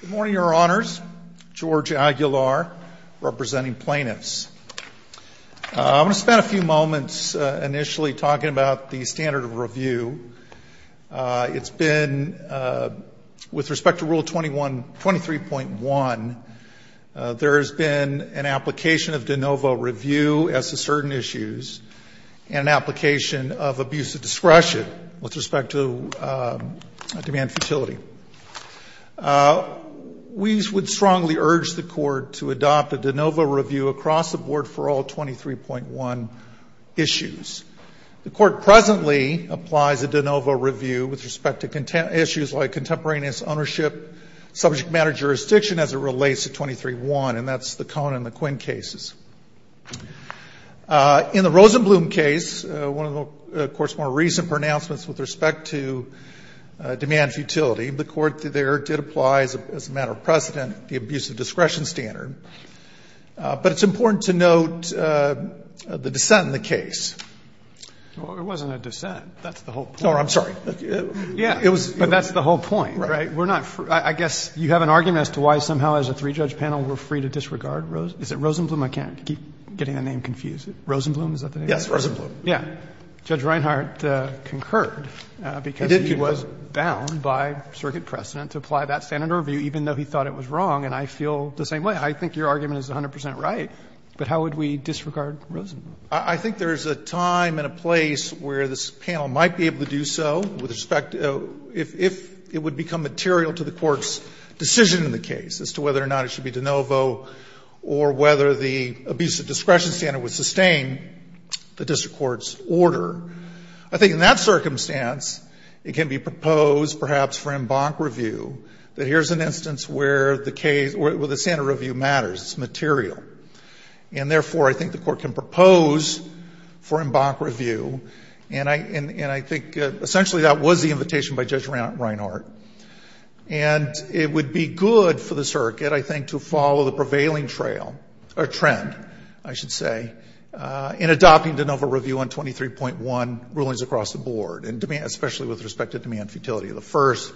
Good morning, Your Honors. George Aguilar, representing plaintiffs. I'm going to spend a few moments initially talking about the standard of review. It's been, with respect to Rule 23.1, there has been an application of de novo review as to certain issues and an application of abuse of discretion with respect to demand futility. We would strongly urge the Court to adopt a de novo review across the board for all 23.1 issues. The Court presently applies a de novo review with respect to issues like contemporaneous ownership, subject matter jurisdiction as it relates to 23.1, and that's the Cohn and McQuinn cases. In the Rosenblum case, one of the Court's more recent pronouncements with respect to demand futility, the Court there did apply, as a matter of precedent, the abuse of discretion standard, but it's important to note the dissent in the case. Well, it wasn't a dissent. That's the whole point. Oh, I'm sorry. Yeah, but that's the whole point, right? I guess you have an argument as to why somehow as a three-judge panel we're free to disregard Rosenblum? Is it Rosenblum? I can't keep getting the name confused. Rosenblum, is that the name? Yes, Rosenblum. Yeah. Judge Reinhart concurred because he was bound by circuit precedent to apply that standard of review even though he thought it was wrong, and I feel the same way. I think your argument is 100 percent right, but how would we disregard Rosenblum? I think there is a time and a place where this panel might be able to do so with respect to if it would become material to the Court's decision in the case as to whether or not it should be de novo or whether the abuse of discretion standard would sustain the district court's order. I think in that circumstance, it can be proposed perhaps for embank review that here's an instance where the case or the standard review matters. It's material. And therefore, I think the Court can propose for embank review, and I think essentially that was the invitation by Judge Reinhart. And it would be good for the circuit, I think, to follow the prevailing trail or trend, I should say, in adopting de novo review on 23.1 rulings across the board, especially with respect to demand futility. The first,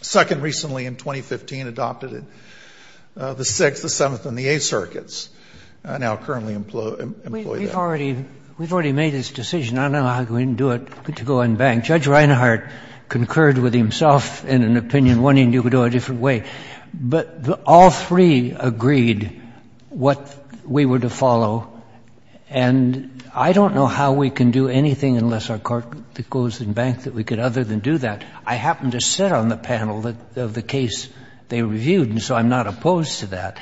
second recently in 2015 adopted it, the sixth, the seventh, and the eighth circuits now currently employ that. We've already made this decision. I don't know how we didn't do it to go embank. Judge Reinhart concurred with himself in an opinion wanting you to do it a different way. But all three agreed what we were to follow. And I don't know how we can do anything unless our Court goes embank that we could other than do that. I happened to sit on the panel of the case they reviewed, and so I'm not opposed to that.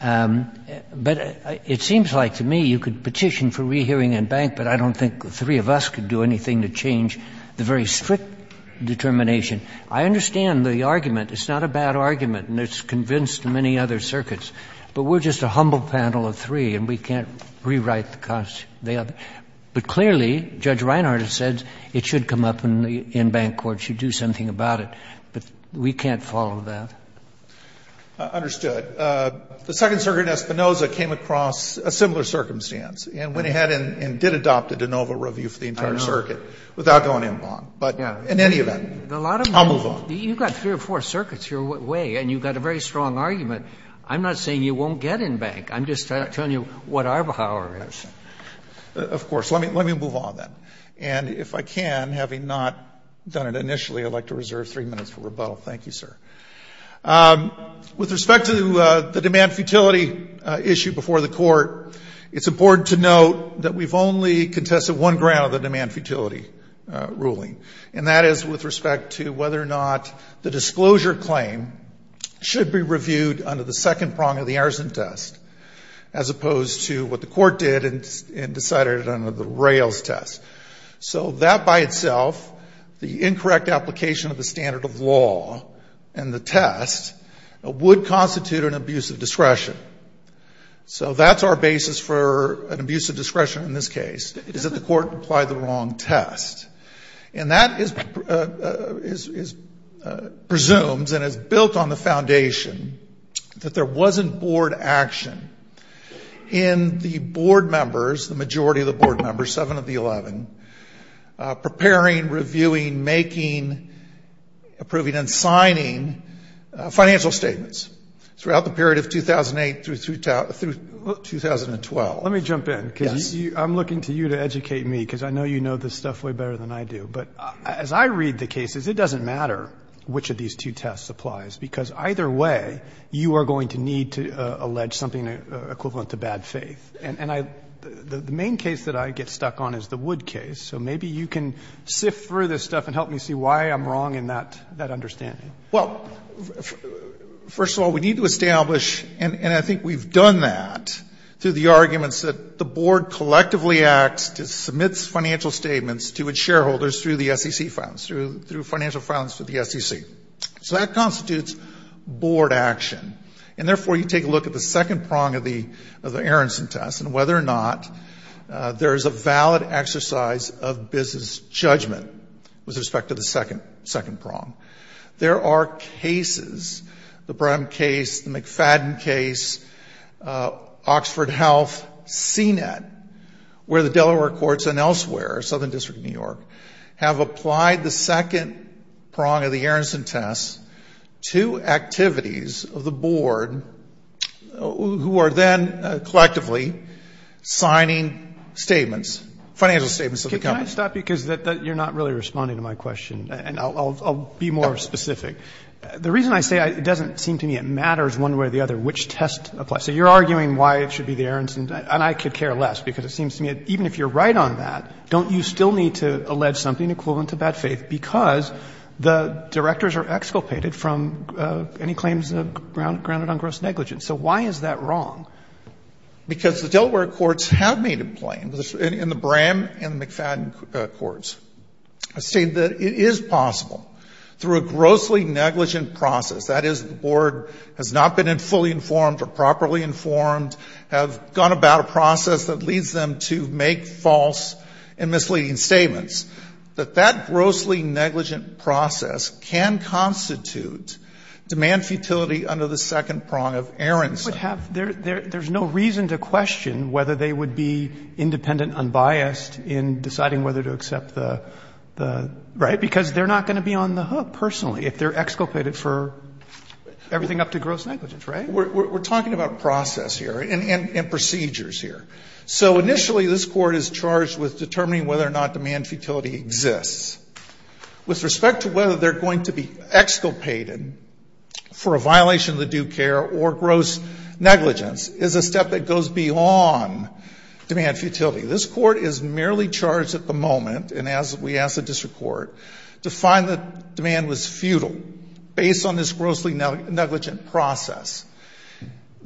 But it seems like to me you could petition for rehearing embank, but I don't think the three of us could do anything to change the very strict determination. I understand the argument. It's not a bad argument, and it's convinced many other circuits. But we're just a humble panel of three, and we can't rewrite the cost. But clearly, Judge Reinhart has said it should come up in the embank court, should do something about it. But we can't follow that. I understood. The second circuit in Espinoza came across a similar circumstance and went ahead and did adopt a de novo review for the entire circuit without going embank. But in any event, I'll move on. You've got three or four circuits your way, and you've got a very strong argument. I'm not saying you won't get embank. I'm just telling you what our power is. Of course. Let me move on, then. And if I can, having not done it initially, I'd like to reserve three minutes for rebuttal. Thank you, sir. With respect to the demand futility issue before the Court, it's important to note that we've only contested one ground of the demand futility ruling, and that is with respect to whether or not the disclosure claim should be reviewed under the second prong of the Arison test as opposed to what the Court did and decided under the Rails test. So that by itself, the incorrect application of the standard of law and the test would constitute an abuse of discretion. So that's our basis for an abuse of discretion in this case, is that the Court applied the wrong test. And that presumes and is built on the foundation that there wasn't board action in the board members, the majority of the board members, seven of the eleven, preparing, reviewing, making, approving, and signing financial statements throughout the period of 2008 through 2012. Let me jump in. Yes. Because I'm looking to you to educate me, because I know you know this stuff way better than I do. But as I read the cases, it doesn't matter which of these two tests applies, because either way you are going to need to allege something equivalent to bad faith. And I the main case that I get stuck on is the Wood case. So maybe you can sift through this stuff and help me see why I'm wrong in that understanding. Well, first of all, we need to establish, and I think we've done that through the arguments that the board collectively acts to submit financial statements to its shareholders through the SEC funds, through financial funds to the SEC. So that constitutes board action. And therefore, you take a look at the second prong of the Aronson test and whether or not there is a valid exercise of business judgment with respect to the second prong. There are cases, the Brehm case, the McFadden case, Oxford Health, CNET, where the Delaware courts and elsewhere, Southern District of New York, have applied the second prong of the Aronson test to activities of the board who are then collectively signing statements, financial statements of the company. Can I stop you because you're not really responding to my question? And I'll be more specific. The reason I say it doesn't seem to me it matters one way or the other which test applies. So you're arguing why it should be the Aronson, and I could care less, because it seems to me even if you're right on that, don't you still need to allege something equivalent to bad faith? Because the directors are exculpated from any claims grounded on gross negligence. So why is that wrong? Because the Delaware courts have made it plain in the Brehm and McFadden courts. I say that it is possible through a grossly negligent process, that is, the board has not been fully informed or properly informed, have gone about a process that leads them to make false and misleading statements, that that grossly negligent process can constitute demand futility under the second prong of Aronson. But have there no reason to question whether they would be independent, unbiased in deciding whether to accept the, the, right? Because they're not going to be on the hook personally if they're exculpated for everything up to gross negligence, right? We're talking about process here and procedures here. So initially this Court is charged with determining whether or not demand futility exists. With respect to whether they're going to be exculpated for a violation of the due care or gross negligence is a step that goes beyond demand futility. This Court is merely charged at the moment, and as we asked the district court, to find that demand was futile based on this grossly negligent process.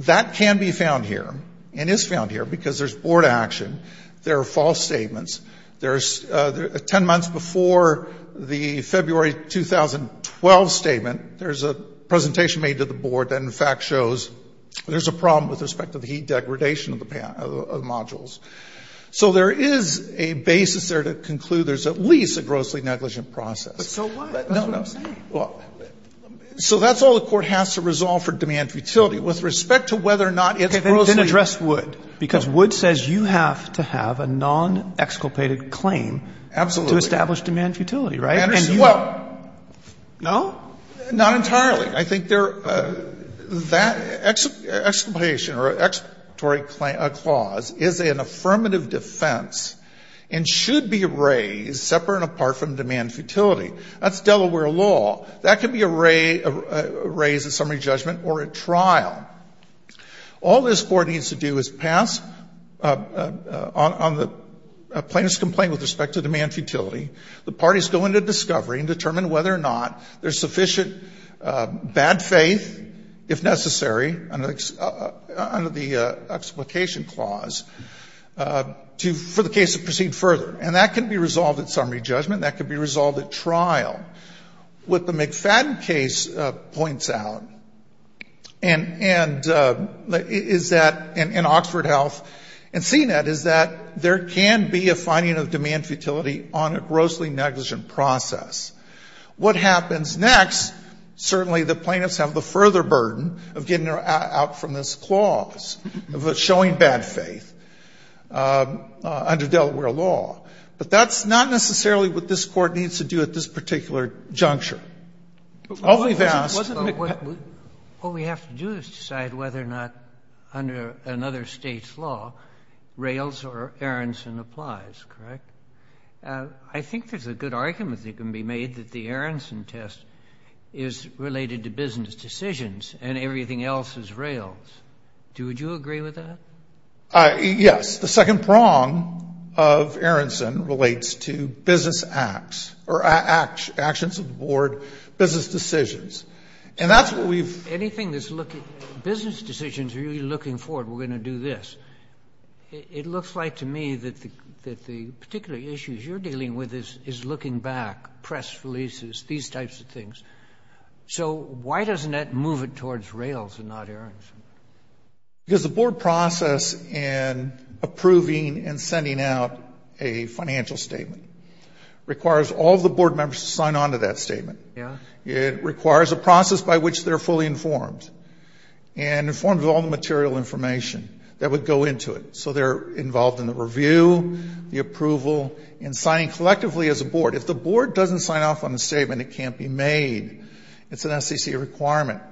That can be found here and is found here because there's board action. There are false statements. There's, 10 months before the February 2012 statement, there's a presentation made to the board that in fact shows there's a problem with respect to the heat heat. So there is a basis there to conclude there's at least a grossly negligent process. But so what? That's what I'm saying. Well, so that's all the Court has to resolve for demand futility. With respect to whether or not it's grossly negligent. Then address Wood. Because Wood says you have to have a non-exculpated claim. Absolutely. To establish demand futility, right? And you don't. Well, no, not entirely. I think there, that exclamation or explanatory clause is an affirmative defense and should be raised separate and apart from demand futility. That's Delaware law. That can be raised at summary judgment or at trial. All this Court needs to do is pass on the plaintiff's complaint with respect to demand futility. The parties go into discovery and determine whether or not there's sufficient bad faith, if necessary, under the explication clause, for the case to proceed further. And that can be resolved at summary judgment. That can be resolved at trial. What the McFadden case points out and is that in Oxford Health and CNET is that there can be a finding of demand futility on a grossly negligent process. What happens next, certainly the plaintiffs have the further burden of getting out from this clause, of showing bad faith, under Delaware law. But that's not necessarily what this Court needs to do at this particular juncture. All we've asked, McFadden. What we have to do is decide whether or not, under another State's law, Rails or Aronson applies, correct? I think there's a good argument that can be made that the Aronson test is related to business decisions and everything else is Rails. Would you agree with that? Yes. The second prong of Aronson relates to business acts or actions of the board, business decisions. And that's what we've Anything that's looking, business decisions are really looking forward, we're going to do this. It looks like to me that the particular issues you're dealing with is looking back, press releases, these types of things. So why doesn't that move it towards Rails and not Aronson? Because the board process in approving and sending out a financial statement requires all of the board members to sign on to that statement. Yes. It requires a process by which they're fully informed. And informed of all the material information that would go into it. So they're involved in the review, the approval, and signing collectively as a board. If the board doesn't sign off on the statement, it can't be made. It's an SEC requirement.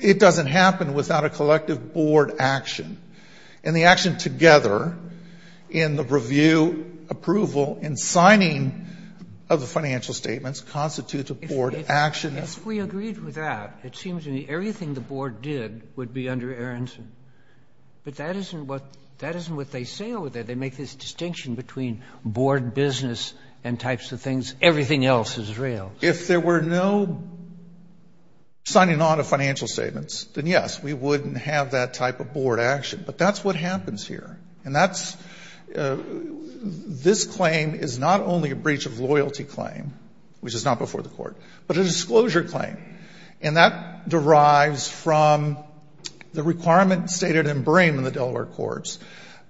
It doesn't happen without a collective board action. And the action together in the review, approval, and signing of the financial statements constitutes a board action. If we agreed with that, it seems to me everything the board did would be under Aronson. But that isn't what they say over there. They make this distinction between board business and types of things. Everything else is Rails. If there were no signing on of financial statements, then yes, we wouldn't have that type of board action. But that's what happens here. And that's, this claim is not only a breach of loyalty claim, which is not before the court, but a disclosure claim. And that derives from the requirement stated in Brame in the Delaware courts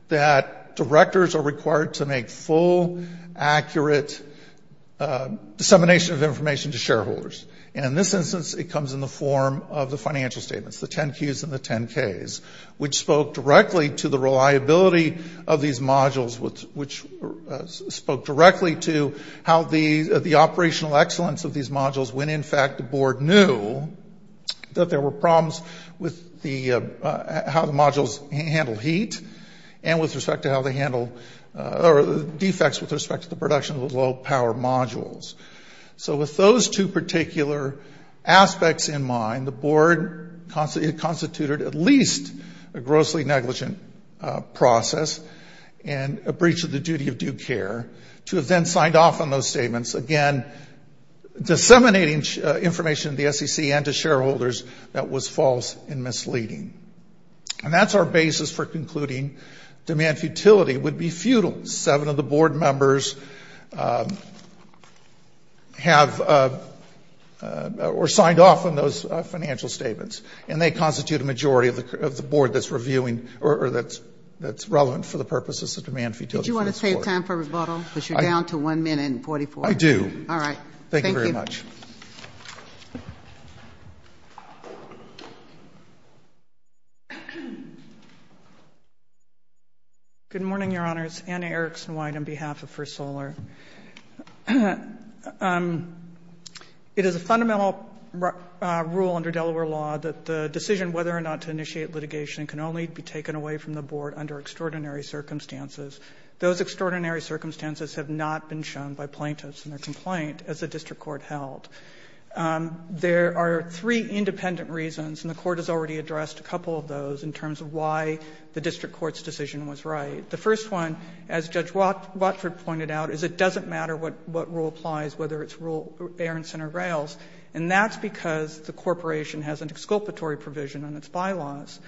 that directors are required to make full, accurate dissemination of information to shareholders. And in this instance, it comes in the form of the financial statements, the reliability of these modules, which spoke directly to how the operational excellence of these modules, when in fact the board knew that there were problems with how the modules handled heat and with respect to how they handled defects with respect to the production of the low power modules. So with those two particular aspects in mind, the board constituted at least a breach of loyalty process and a breach of the duty of due care to have then signed off on those statements, again, disseminating information to the SEC and to shareholders that was false and misleading. And that's our basis for concluding demand futility would be futile. Seven of the board members have, or signed off on those financial statements. And they constitute a majority of the board that's reviewing or that's relevant for the purposes of demand futility for this court. Do you want to save time for rebuttal? Because you're down to one minute and 44. I do. All right. Thank you. Thank you very much. Good morning, Your Honors. Anna Erickson White on behalf of First Solar. It is a fundamental rule under Delaware law that the decision whether or not to initiate litigation can only be taken away from the board under extraordinary circumstances. Those extraordinary circumstances have not been shown by plaintiffs in their complaint as the district court held. There are three independent reasons, and the court has already addressed a couple of those in terms of why the district court's decision was right. The first one, as Judge Watford pointed out, is it doesn't matter what rule applies, whether it's rule Berenson or Rails. And that's because the corporation has an exculpatory provision on its bylaws.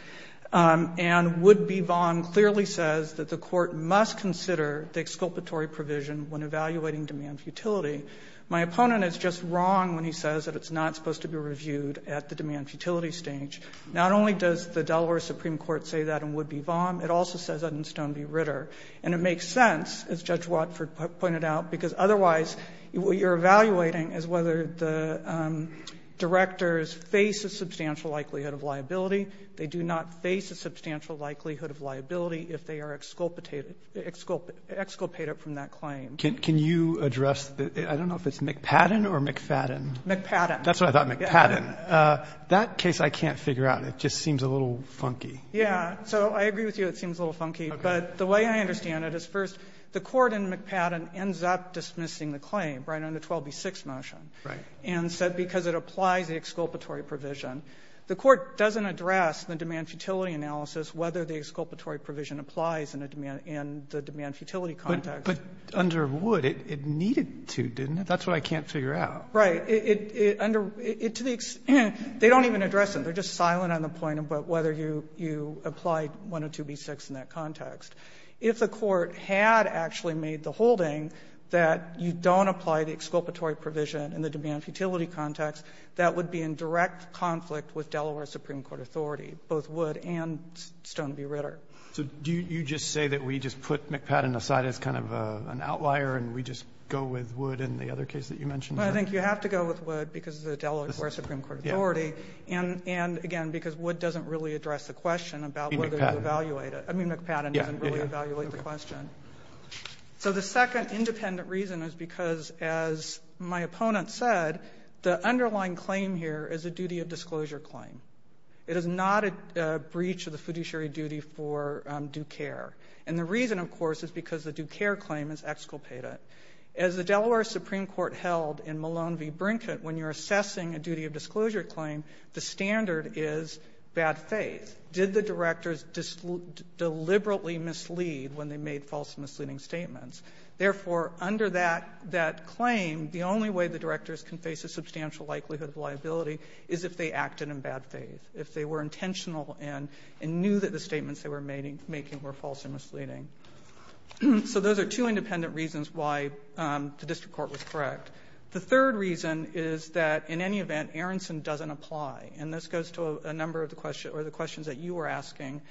And would-be VOM clearly says that the court must consider the exculpatory provision when evaluating demand futility. My opponent is just wrong when he says that it's not supposed to be reviewed at the demand futility stage. Not only does the Delaware Supreme Court say that in would-be VOM, it also says that And it makes sense, as Judge Watford pointed out, because otherwise what you're evaluating is whether the directors face a substantial likelihood of liability. They do not face a substantial likelihood of liability if they are exculpated from that claim. Can you address the — I don't know if it's McPadden or McFadden. McPadden. That's what I thought, McPadden. That case I can't figure out. It just seems a little funky. Yeah. So I agree with you it seems a little funky. Okay. But the way I understand it is, first, the court in McPadden ends up dismissing the claim, right, on the 12B6 motion. Right. And said because it applies the exculpatory provision. The court doesn't address the demand futility analysis whether the exculpatory provision applies in the demand futility context. But under would, it needed to, didn't it? That's what I can't figure out. Right. It — to the — they don't even address it. They're just silent on the point about whether you apply 102B6 in that context. If the court had actually made the holding that you don't apply the exculpatory provision in the demand futility context, that would be in direct conflict with Delaware Supreme Court authority, both would and Stone v. Ritter. So do you just say that we just put McPadden aside as kind of an outlier and we just go with would in the other case that you mentioned? Well, I think you have to go with would because of the Delaware Supreme Court authority and, again, because would doesn't really address the question about whether to evaluate it. I mean, McPadden doesn't really evaluate the question. So the second independent reason is because, as my opponent said, the underlying claim here is a duty of disclosure claim. It is not a breach of the fiduciary duty for due care. And the reason, of course, is because the due care claim is exculpated. As the Delaware Supreme Court held in Malone v. Brinkett, when you're assessing a duty of disclosure claim, the standard is bad faith. Did the directors deliberately mislead when they made false and misleading statements? Therefore, under that claim, the only way the directors can face a substantial likelihood of liability is if they acted in bad faith, if they were intentional and knew that the statements they were making were false and misleading. So those are two independent reasons why the district court was correct. The third reason is that, in any event, Aronson doesn't apply. And this goes to a number of the questions that you were asking,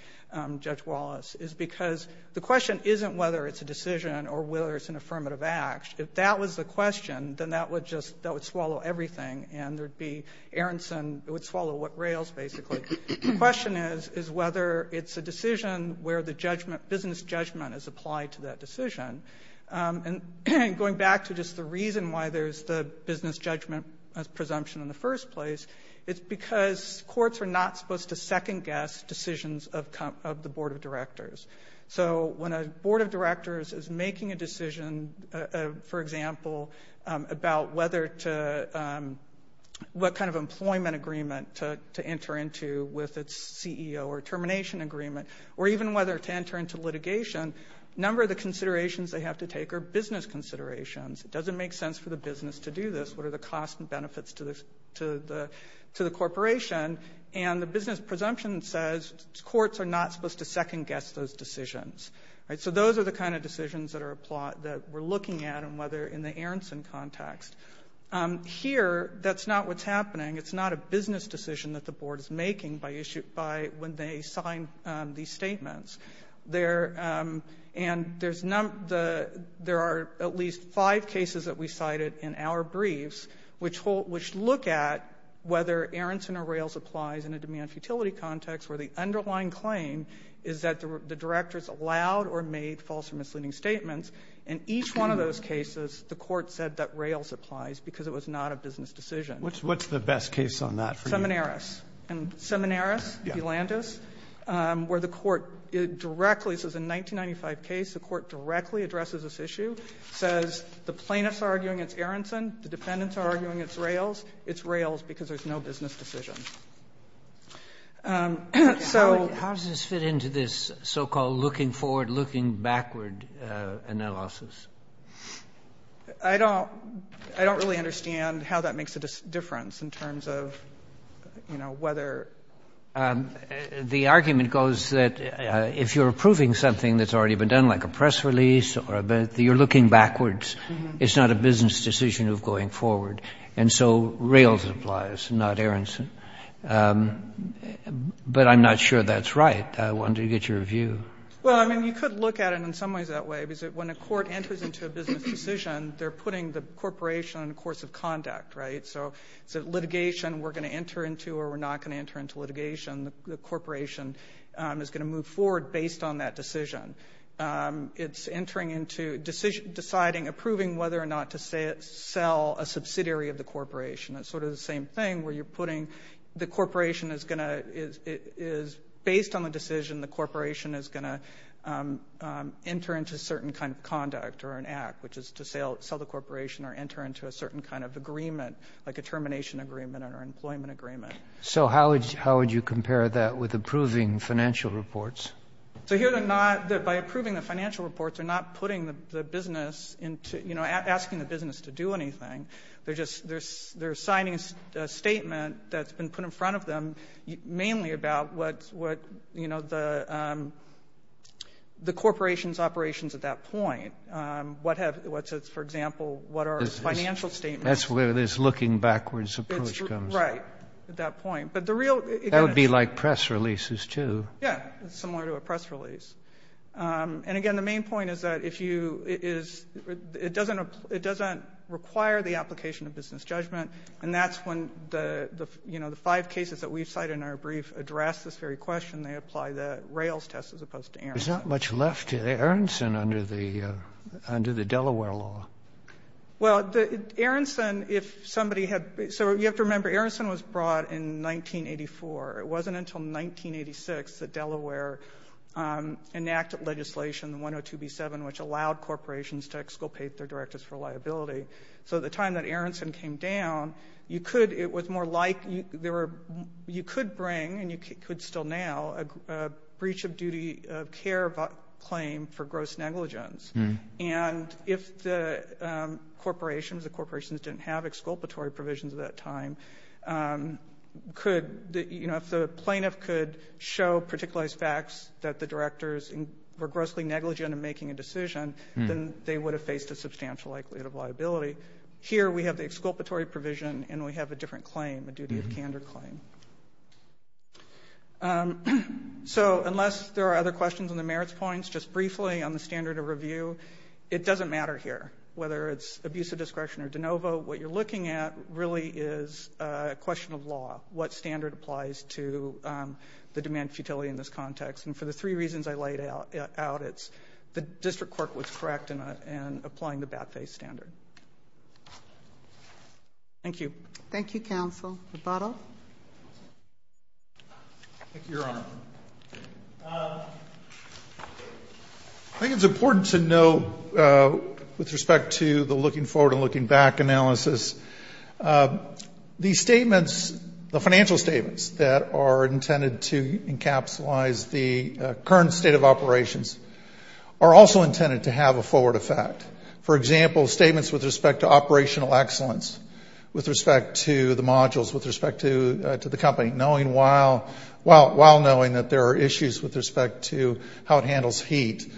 Judge Wallace, is because the question isn't whether it's a decision or whether it's an affirmative act. If that was the question, then that would just — that would swallow everything, and there would be Aronson — it would swallow what rails, basically. The question is, is whether it's a decision where the judgment — business judgment is applied to that decision. And going back to just the reason why there's the business judgment presumption in the first place, it's because courts are not supposed to second-guess decisions of the board of directors. So when a board of directors is making a decision, for example, about whether to — with its CEO or termination agreement, or even whether to enter into litigation, a number of the considerations they have to take are business considerations. It doesn't make sense for the business to do this. What are the costs and benefits to the corporation? And the business presumption says courts are not supposed to second-guess those decisions. Right? So those are the kind of decisions that are applied — that we're looking at, and whether in the Aronson context. Here, that's not what's happening. It's not a business decision that the board is making by issue — by when they sign these statements. There — and there's — there are at least five cases that we cited in our briefs, which look at whether Aronson or rails applies in a demand-futility context, where the underlying claim is that the directors allowed or made false or misleading statements. In each one of those cases, the court said that rails applies, because it was not a business decision. What's the best case on that for you? Seminaris. Seminaris. Yeah. Elandis, where the court directly — so it's a 1995 case. The court directly addresses this issue, says the plaintiffs are arguing it's Aronson, the defendants are arguing it's rails. It's rails, because there's no business decision. So — How does this fit into this so-called looking-forward, looking-backward analysis? I don't — I don't really understand how that makes a difference in terms of, you know, whether — The argument goes that if you're approving something that's already been done, like a press release or a — you're looking backwards. It's not a business decision of going forward. And so rails applies, not Aronson. But I'm not sure that's right. I wanted to get your view. Well, I mean, you could look at it in some ways that way. Because when a court enters into a business decision, they're putting the corporation on the course of conduct, right? So it's a litigation we're going to enter into or we're not going to enter into litigation. The corporation is going to move forward based on that decision. It's entering into — deciding, approving whether or not to sell a subsidiary of the corporation. It's sort of the same thing where you're putting — the corporation is going to — or an act, which is to sell the corporation or enter into a certain kind of agreement, like a termination agreement or an employment agreement. So how would you compare that with approving financial reports? So here they're not — by approving the financial reports, they're not putting the business into — you know, asking the business to do anything. They're just — they're signing a statement that's been put in front of them, mainly about what, you know, the corporation's operations at that point. What have — for example, what are financial statements? That's where this looking backwards approach comes in. Right, at that point. But the real — That would be like press releases, too. Yeah, similar to a press release. And again, the main point is that if you — it doesn't require the application of business judgment, and that's when the, you know, the five cases that we've cited in our brief address this very question. They apply the Rails test as opposed to Aronson. There's not much left. Aronson under the Delaware law. Well, Aronson, if somebody had — so you have to remember, Aronson was brought in 1984. It wasn't until 1986 that Delaware enacted legislation, the 102B7, which allowed corporations to exculpate their directors for liability. So at the time that Aronson came down, you could — it was more like there were — you could bring, and you could still now, a breach of duty of care claim for gross negligence. And if the corporations — the corporations didn't have exculpatory provisions at that time, could — you know, if the plaintiff could show particular facts that the directors were grossly negligent in making a decision, then they would have faced a substantial likelihood of liability. Here we have the exculpatory provision, and we have a different claim, a duty of candor claim. So unless there are other questions on the merits points, just briefly on the standard of review, it doesn't matter here. Whether it's abuse of discretion or de novo, what you're looking at really is a question of law, what standard applies to the demand futility in this context. And for the three reasons I laid out, it's the district court was correct in applying the Batface standard. Thank you. Thank you, counsel. Roboto. Thank you, Your Honor. I think it's important to note, with respect to the looking forward and looking back analysis, the statements, the financial statements that are intended to encapsulize the current state of operations are also intended to have a forward effect. For example, statements with respect to operational excellence, with respect to the modules, with respect to the company, while knowing that there are issues with respect to how it handles heat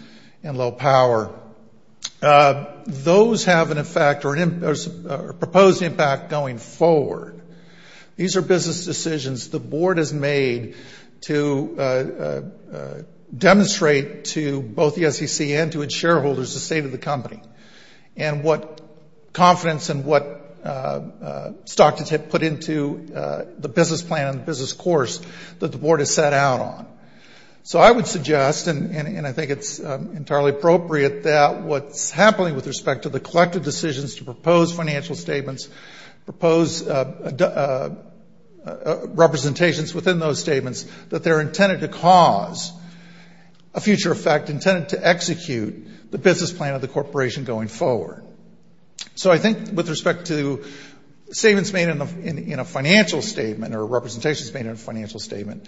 and low power. Those have an effect or a proposed impact going forward. These are business decisions the board has made to demonstrate to both the SEC and to its shareholders the state of the company, and what confidence and what stock to put into the business plan and the business course that the board has set out on. So I would suggest, and I think it's entirely appropriate, that what's happening with respect to the collective decisions to propose financial statements, propose representations within those statements, that they're intended to cause a future effect intended to execute the business plan of the corporation going forward. So I think with respect to statements made in a financial statement or representations made in a financial statement,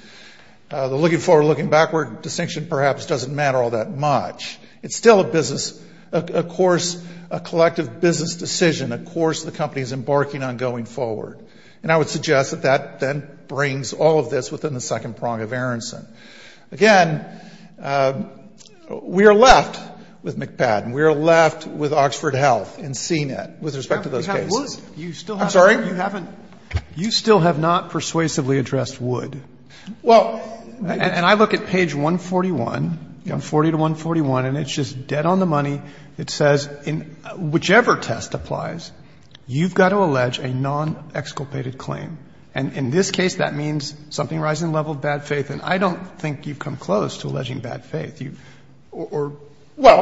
the looking forward, looking backward distinction perhaps doesn't matter all that much. It's still a business, a course, a collective business decision, a course the company is embarking on going forward. And I would suggest that that then brings all of this within the second prong of Aronson. Again, we are left with MCPAD, and we are left with Oxford Health and CNET with respect to those cases. I'm sorry? You still have not persuasively addressed Wood. And I look at page 141, 40 to 141, and it's just dead on the money. It says, whichever test applies, you've got to allege a non-exculpated claim. And in this case, that means something rising the level of bad faith. And I don't think you've come close to alleging bad faith. Well,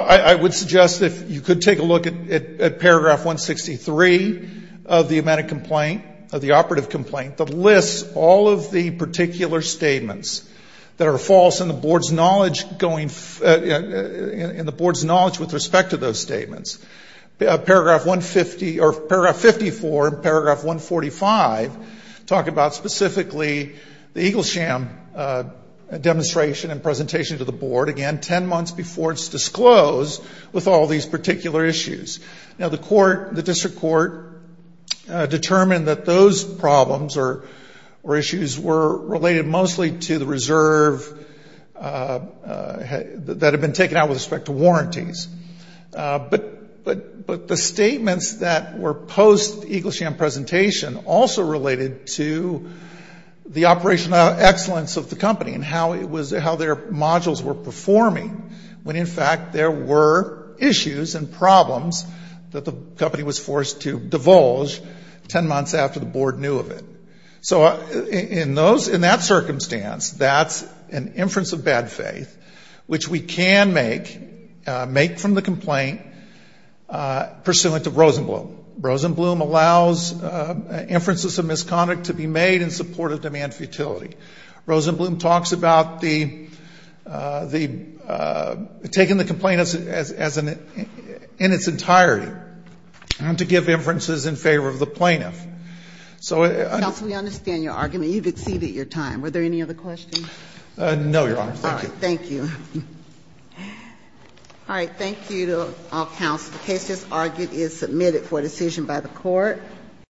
I would suggest if you could take a look at paragraph 163 of the amendment complaint, of the operative complaint that lists all of the particular statements that are false in the board's knowledge going in the board's knowledge with respect to those statements. Paragraph 150 or paragraph 54 and paragraph 145 talk about specifically the Eagle Sham demonstration and presentation to the board, again, 10 months before it's disclosed, with all these particular issues. Now, the court, the district court, determined that those problems or issues were related mostly to the reserve that had been taken out with respect to warranties. But the statements that were post-Eagle Sham presentation also related to the operational excellence of the company and how their modules were performing when, in fact, there were issues and problems that the company was forced to divulge 10 months after the board knew of it. So in that circumstance, that's an inference of bad faith, which we can make from the complaint pursuant to Rosenblum. Rosenblum allows inferences of misconduct to be made in support of demand futility. Rosenblum talks about the — taking the complainants as an — in its entirety to give inferences in favor of the plaintiff. So — Counsel, we understand your argument. You've exceeded your time. Were there any other questions? No, Your Honor. Thank you. Thank you. All right. Thank you to all counsel. The case, as argued, is submitted for decision by the Court.